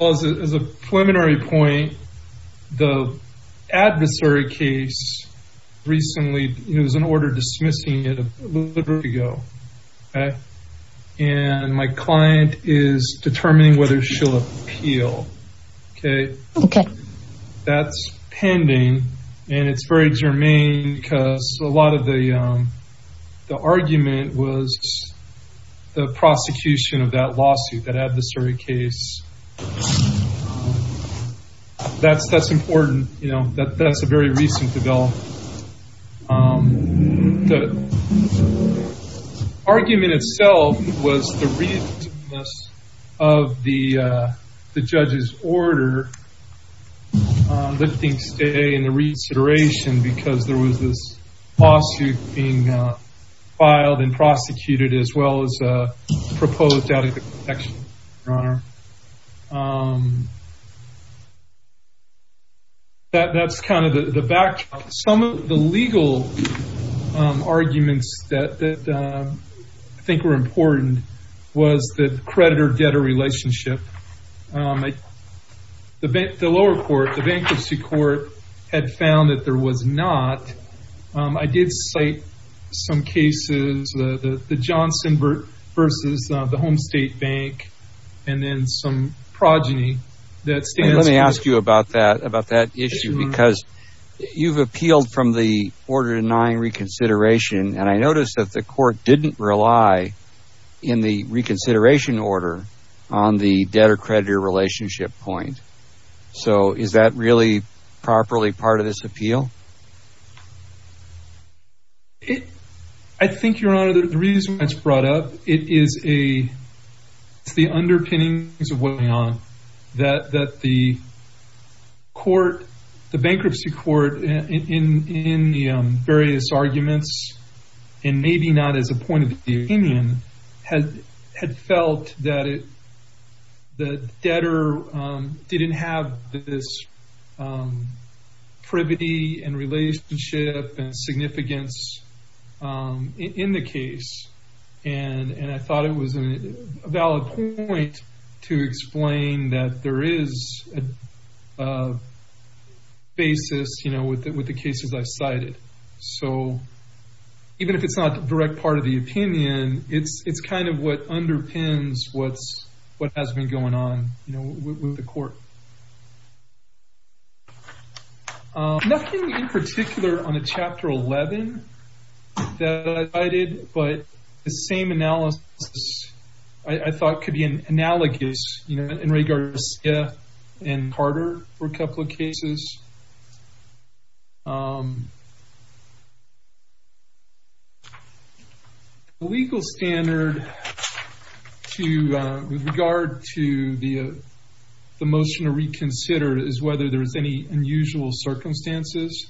As a preliminary point, the adversary case recently, it was an order dismissing it a little bit ago. And my client is determining whether she'll appeal. Okay. That's pending. And it's very germane because a lot of the argument was the prosecution of that lawsuit, that adversary case. That's important. You know, that's a very recent development. The argument itself was the reasonableness of the judge's order lifting stay and the reconsideration because there was this lawsuit being filed and prosecuted as well as a protection. That's kind of the backdrop. Some of the legal arguments that I think were important was the creditor-debtor relationship. The lower court, the bankruptcy was not. I did cite some cases, the Johnson versus the home state bank and then some progeny. Let me ask you about that issue because you've appealed from the order denying reconsideration and I noticed that the court didn't rely in the reconsideration order on the bankruptcy. I think, Your Honor, the reason it's brought up, it's the underpinnings of what went on. That the bankruptcy court in the various arguments and maybe not as a point of opinion had felt that the debtor didn't have this privity and relationship and significance in the case. I thought it was a valid point to explain that there is a basis with the cases I even if it's not a direct part of the opinion, it's kind of what underpins what has been going on with the court. Nothing in particular on the chapter 11 that I did but the same analysis I thought could be analogous in regards to Carter for a couple of cases. The legal standard with regard to the motion to reconsider is whether there's any unusual circumstances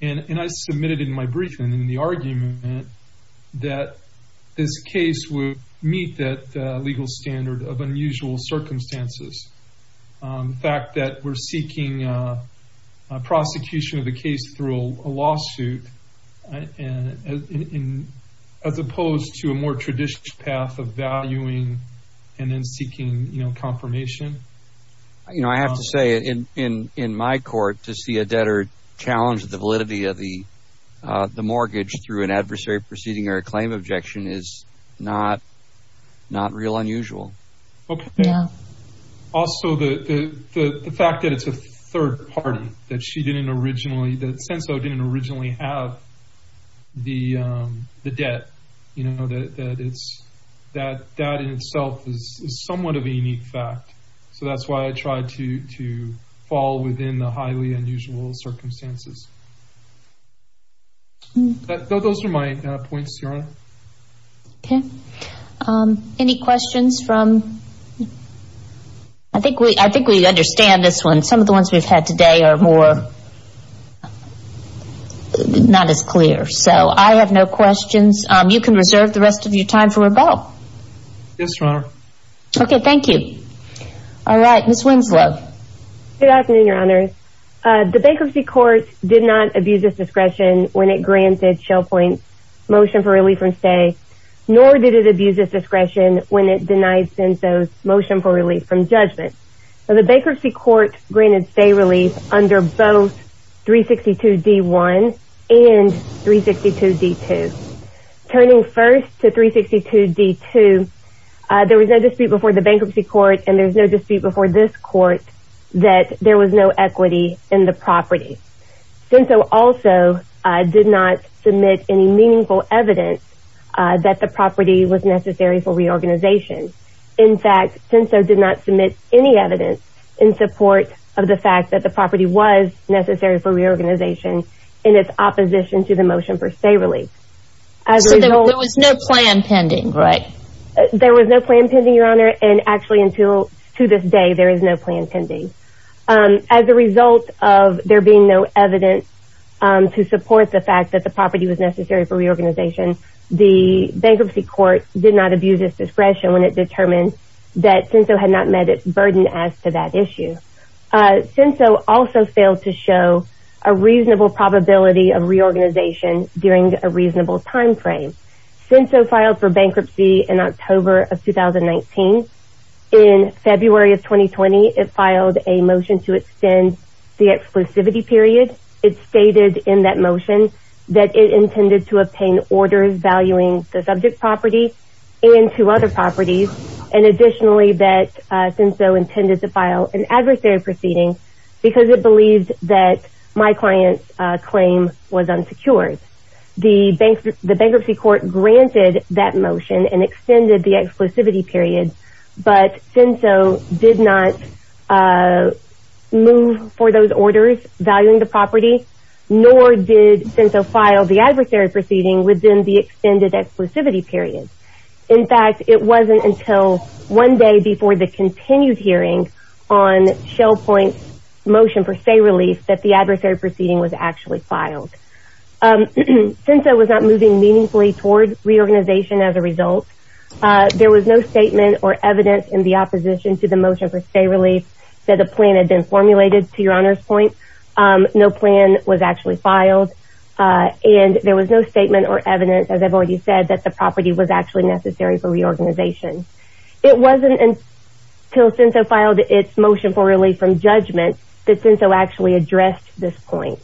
and I submitted in my briefing in the argument that this case would meet that legal standard of unusual circumstances. The fact that we're seeking prosecution of the through a lawsuit as opposed to a more traditional path of valuing and then seeking confirmation. I have to say in my court to see a debtor challenge the validity of the mortgage through an adversary proceeding or a claim objection is not real unusual. Okay. Also, the fact that it's a third party, that she didn't originally, that Senso didn't originally have the debt, that in itself is somewhat of a unique fact. That's why I tried to fall within the highly unusual circumstances. Those are my points, Your Honor. Okay. Any questions from? I think we understand this one. Some of the ones we've had today are not as clear. I have no questions. You can reserve the rest of your time for rebuttal. Yes, Your Honor. Okay. Thank you. All right. Ms. Winslow. Good afternoon, Your Honor. The bankruptcy court did not abuse its discretion when it granted Shell Point's motion for relief from stay, nor did it abuse its discretion when it denied Senso's motion for relief from judgment. The bankruptcy court granted stay relief under both 362 D1 and 362 D2. Turning first to 362 D2, there was no dispute before the bankruptcy court, and there's no dispute before this court that there was no equity in the property. Senso also did not submit any meaningful evidence that the property was necessary for reorganization. In fact, Senso did not submit any evidence in support of the fact that the property was necessary for reorganization in its opposition to the motion for stay relief. There was no plan pending, right? There was no plan pending, Your Honor, and actually until to this day, there is no plan pending. As a result of there being no evidence to support the fact that the property was necessary for reorganization, the bankruptcy court did not abuse its discretion when it determined that Senso had not met its burden as to that issue. Senso also failed to show a reasonable probability of reorganization during a reasonable timeframe. Senso filed for bankruptcy in October of 2019. In February of 2020, it filed a motion to extend the exclusivity period. It stated in that motion that it intended to obtain orders valuing the subject property and two other properties, and additionally that Senso intended to file an adversary proceeding because it believed that my client's claim was unsecured. The bankruptcy court granted that motion and extended the but Senso did not move for those orders valuing the property, nor did Senso file the adversary proceeding within the extended exclusivity period. In fact, it wasn't until one day before the continued hearing on Shell Point's motion for stay relief that the adversary proceeding was actually filed. Senso was not moving meaningfully toward reorganization as a result. There was no statement or evidence in the opposition to the motion for stay relief that a plan had been formulated to your honor's point. No plan was actually filed, and there was no statement or evidence, as I've already said, that the property was actually necessary for reorganization. It wasn't until Senso filed its motion for relief from judgment that Senso actually addressed this point,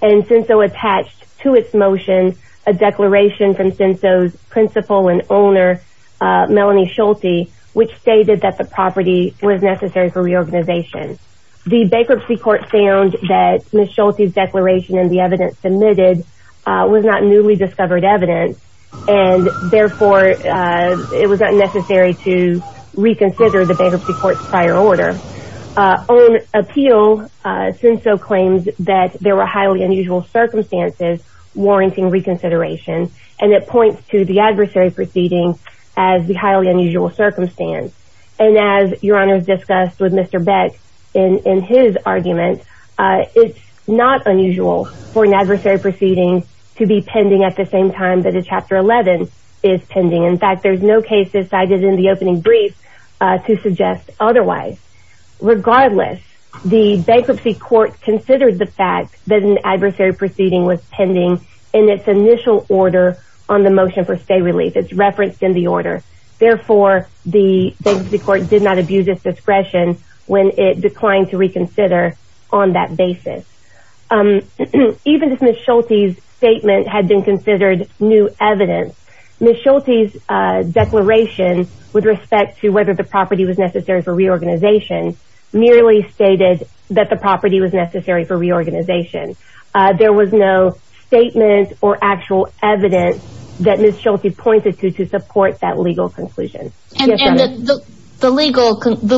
and Senso attached to its motion a declaration from Senso's principal and owner, Melanie Schulte, which stated that the property was necessary for reorganization. The bankruptcy court found that Ms. Schulte's declaration and the evidence submitted was not newly discovered evidence, and therefore it was not necessary to reconsider the bankruptcy court's prior order. On appeal, Senso claims that there were highly unusual circumstances warranting reconsideration, and it points to the adversary proceeding as the highly unusual circumstance, and as your honor has discussed with Mr. Beck in his argument, it's not unusual for an adversary proceeding to be pending at the same time that a chapter 11 is pending. In fact, there's no cases cited in the opening brief to suggest otherwise. Regardless, the bankruptcy court considered the fact that an adversary proceeding was pending in its initial order on the motion for stay relief. It's referenced in the order. Therefore, the bankruptcy court did not abuse its discretion when it declined to reconsider on that basis. Even if Ms. Schulte's statement had been considered new evidence, Ms. Schulte's declaration with respect to whether the property was necessary for reorganization merely stated that the property was necessary for reorganization. There was no statement or actual evidence that Ms. Schulte pointed to to support that legal conclusion. And the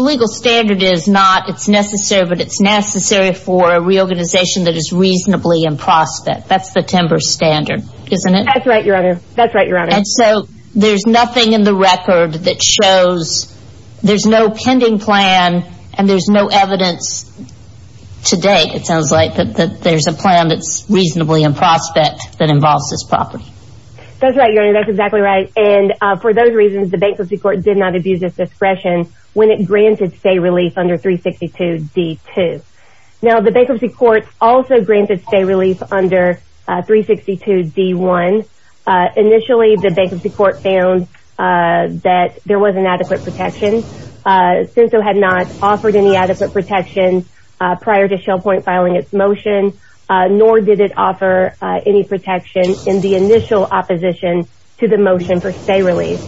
legal standard is not it's necessary, but it's necessary for a reorganization that is reasonably in prospect. That's the timber standard, isn't it? That's right, your honor. That's right, your honor. And so there's nothing in the record that shows there's no pending plan and there's no evidence to date, it sounds like, that there's a plan that's reasonably in prospect that involves this property. That's right, your honor. That's exactly right. And for those reasons, the bankruptcy court did not abuse its discretion when it granted stay relief under 362 D2. Now, the bankruptcy court also granted stay relief under 362 D1. Initially, the bankruptcy court found that there wasn't adequate protection. CINSO had not offered any adequate protection prior to Shell Point filing its motion, nor did it offer any protection in the initial opposition to the motion for stay relief.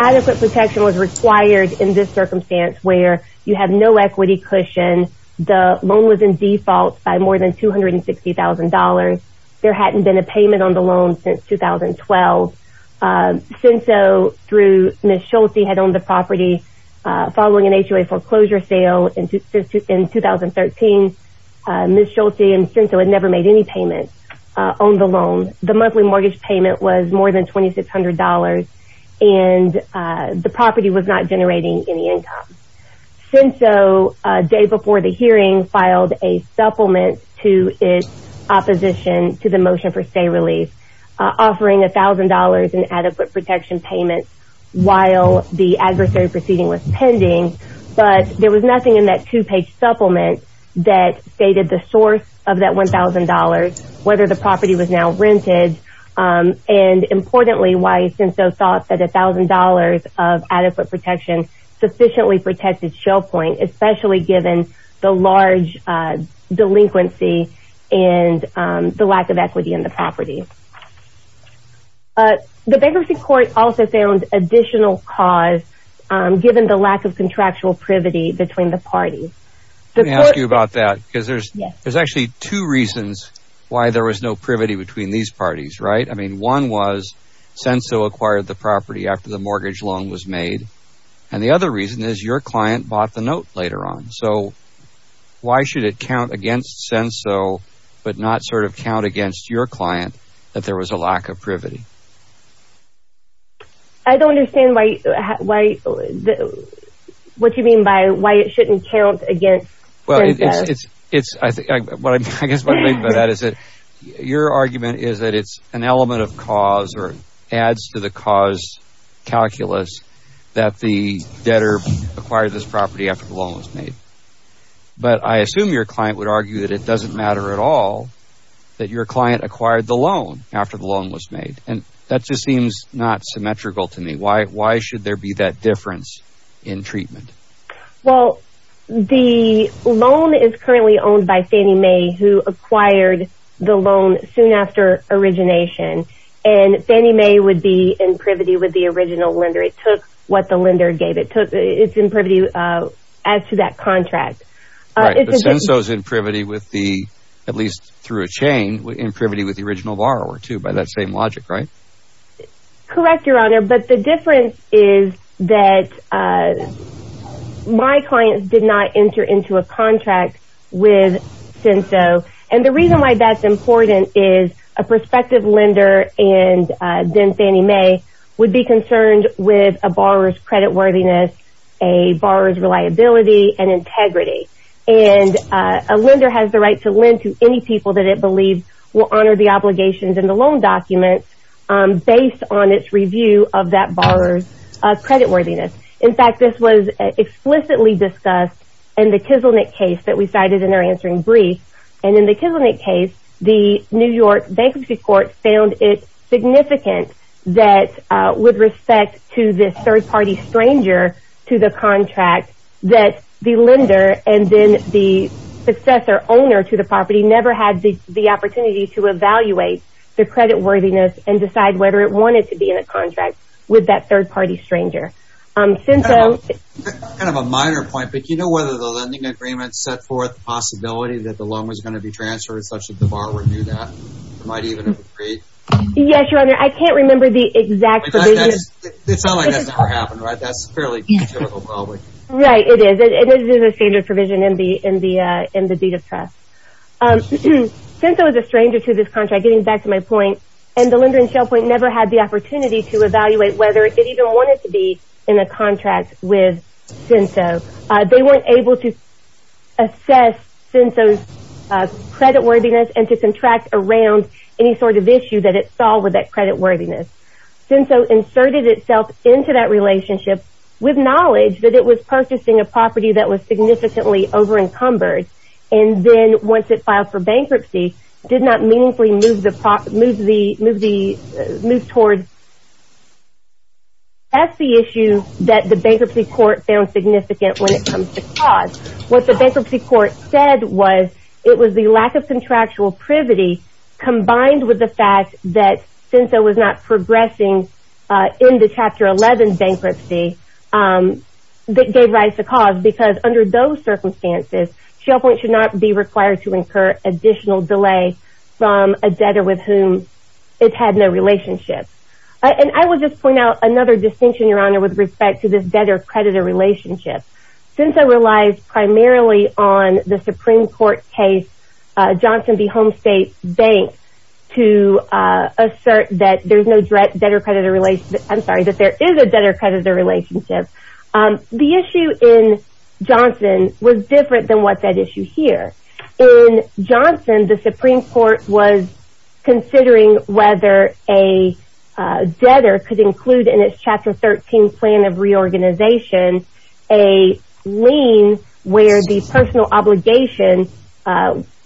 Adequate protection was required in this circumstance where you have no equity cushion, the loan was in default by more than $260,000. There hadn't been a payment on the loan since 2012. CINSO through Ms. Schulte had owned the property following an HOA foreclosure sale in 2013. Ms. Schulte and CINSO had never made any payments on the loan. The monthly mortgage payment was more than $2,600, and the property was not generating any income. CINSO, a day before the hearing, filed a supplement to its opposition to the motion for stay relief, offering $1,000 in adequate protection payments while the adversary proceeding was pending. But there was nothing in that two-page supplement that stated the source of that $1,000, whether the why CINSO thought that $1,000 of adequate protection sufficiently protected Shell Point, especially given the large delinquency and the lack of equity in the property. The bankruptcy court also found additional cause given the lack of contractual privity between the parties. Let me ask you about that because there's actually two reasons why there was no privity between these parties, right? I mean, one was CINSO acquired the property after the mortgage loan was made. And the other reason is your client bought the note later on. So why should it count against CINSO but not sort of count against your client that there was a lack of privity? I don't understand what you mean by why it shouldn't count against CINSO. Your argument is that it's an element of cause or adds to the cause calculus that the debtor acquired this property after the loan was made. But I assume your client would argue that it doesn't matter at all that your client acquired the loan after the loan was made. And that just seems not symmetrical to me. Why should there be that difference in treatment? Well, the loan is currently owned by Fannie Mae who acquired the loan soon after origination. And Fannie Mae would be in privity with the original lender. It took what the lender gave. It's in privity as to that contract. CINSO's in privity with the, at least through a chain, in privity with the original borrower too by that same logic, right? Correct, Your Honor. But the difference is that my clients did not enter into a contract with CINSO. And the reason why that's important is a prospective lender and then Fannie Mae would be concerned with a borrower's credit worthiness, a borrower's reliability and integrity. And a lender has the right to lend to any people that it believes will honor the based on its review of that borrower's credit worthiness. In fact, this was explicitly discussed in the Kizilnick case that we cited in our answering brief. And in the Kizilnick case, the New York Bankruptcy Court found it significant that with respect to this third-party stranger to the contract that the lender and then the successor owner to the property never had the whether it wanted to be in a contract with that third-party stranger. Kind of a minor point, but do you know whether the lending agreement set forth the possibility that the loan was going to be transferred such that the borrower knew that? It might even have agreed? Yes, Your Honor. I can't remember the exact provision. It sounds like that's never happened, right? That's fairly typical probably. Right, it is. It is a standard provision in the deed of trust. CINSO is a stranger to this contract, getting back to my point. And the lender in Shell Point never had the opportunity to evaluate whether it even wanted to be in a contract with CINSO. They weren't able to assess CINSO's credit worthiness and to contract around any sort of issue that it saw with that credit worthiness. CINSO inserted itself into that relationship with knowledge that it was purchasing a property that was significantly over-encumbered and then once it filed for bankruptcy, did not meaningfully move towards that's the issue that the bankruptcy court found significant when it comes to cause. What the bankruptcy court said was it was the lack of contractual privity combined with the fact that CINSO was not progressing in the Chapter 11 bankruptcy that gave rise to cause because under those circumstances, Shell Point should not be required to incur additional delay from a debtor with whom it had no relationship. And I will just point out another distinction, Your Honor, with respect to this debtor-creditor relationship. CINSO relies primarily on the Supreme Court case Johnson v. Home State Bank to assert that there's no debtor-creditor relationship, I'm sorry, that there is a debtor-creditor relationship. The issue in Johnson was different than what's at issue here. In Johnson, the Supreme Court was considering whether a debtor could include in its Chapter 13 plan of reorganization, a lien where the personal obligation,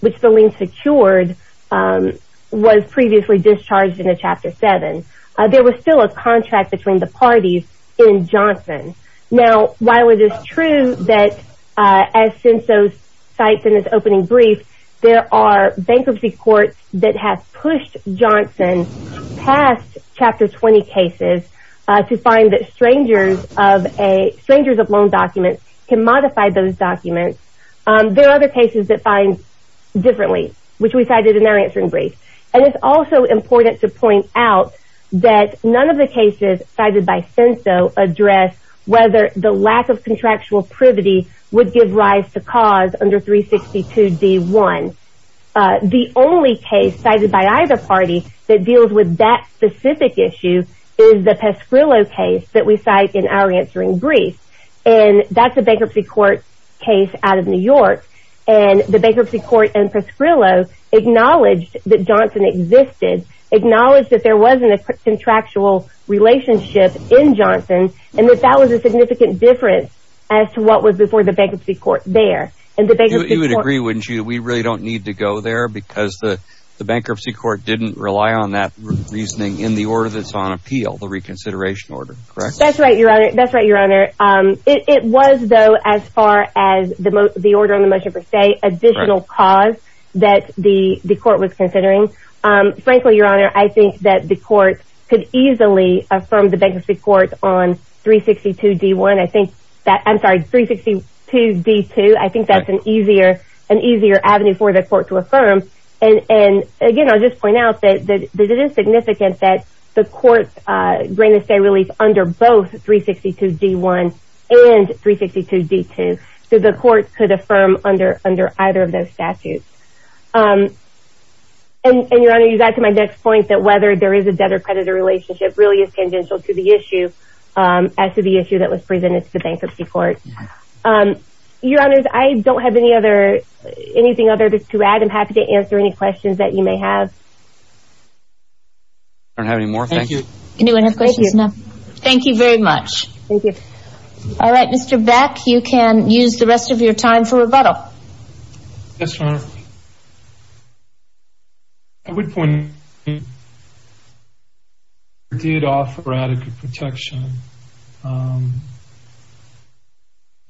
which the lien secured, was previously discharged in a Chapter 7. There was still a contract between the parties in Johnson. Now, while it is true that as CINSO cites in its opening brief, there are bankruptcy courts that have pushed Johnson past Chapter 20 cases to find that strangers of loan documents can modify those documents. There are other cases that find differently, which we cited in our answering brief. And it's also important to note that none of the cases cited by CINSO address whether the lack of contractual privity would give rise to cause under 362 D.1. The only case cited by either party that deals with that specific issue is the Pasquillo case that we cite in our answering brief. And that's a bankruptcy court case out of New York. And the bankruptcy court in Pasquillo acknowledged that Johnson existed, acknowledged that there wasn't a contractual relationship in Johnson, and that that was a significant difference as to what was before the bankruptcy court there. You would agree, wouldn't you? We really don't need to go there because the bankruptcy court didn't rely on that reasoning in the order that's on appeal, the reconsideration order, correct? That's right, Your Honor. That's right, Your Honor. It was, though, as far as the order on the motion per that the court was considering. Frankly, Your Honor, I think that the court could easily affirm the bankruptcy court on 362 D.1. I think that, I'm sorry, 362 D.2. I think that's an easier avenue for the court to affirm. And again, I'll just point out that it is significant that the court granted stay release under both 362 D.1 and 362 D.2. So the court could affirm under either of those statutes. And Your Honor, you got to my next point that whether there is a debtor-creditor relationship really is tangential to the issue as to the issue that was presented to the bankruptcy court. Your Honors, I don't have anything other to add. I'm happy to answer any questions that you may have. I don't have any more. Thank you. Anyone have questions? No. Thank you very much. Thank you. All right, Mr. Beck, you can use the rest of your time for rebuttal. Yes, Your Honor. I would point out that the debtor did offer adequate protection. The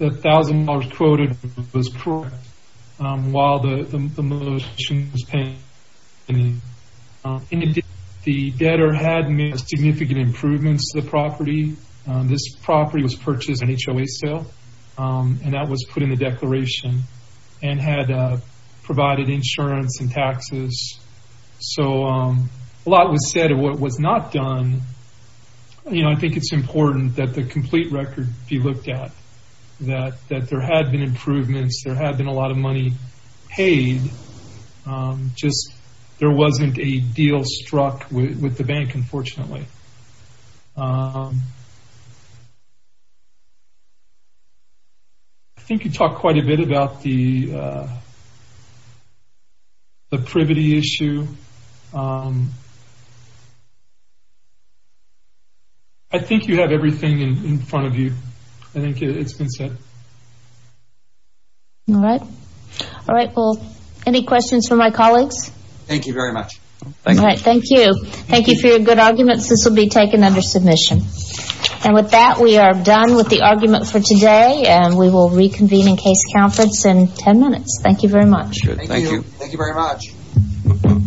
$1,000 quoted was correct while the motion was pending. In addition, the debtor had made significant improvements to the property. This property was purchased on HOA sale, and that was put in the declaration, and had provided insurance and taxes. So a lot was said of what was not done. You know, I think it's important that the complete record be looked at, that there had been improvements, there had been a lot of money paid, just there wasn't a deal struck with the bank, unfortunately. I think you talked quite a bit about the privity issue. I think you have everything in front of you. I think it's been said. All right. All right, well, any questions for my colleagues? Thank you very much. All right, thank you. Thank you for your good arguments. This will be taken under submission. And with that, we are done with the argument for today, and we will reconvene in case conference in 10 minutes. Thank you very much. Thank you. Thank you very much.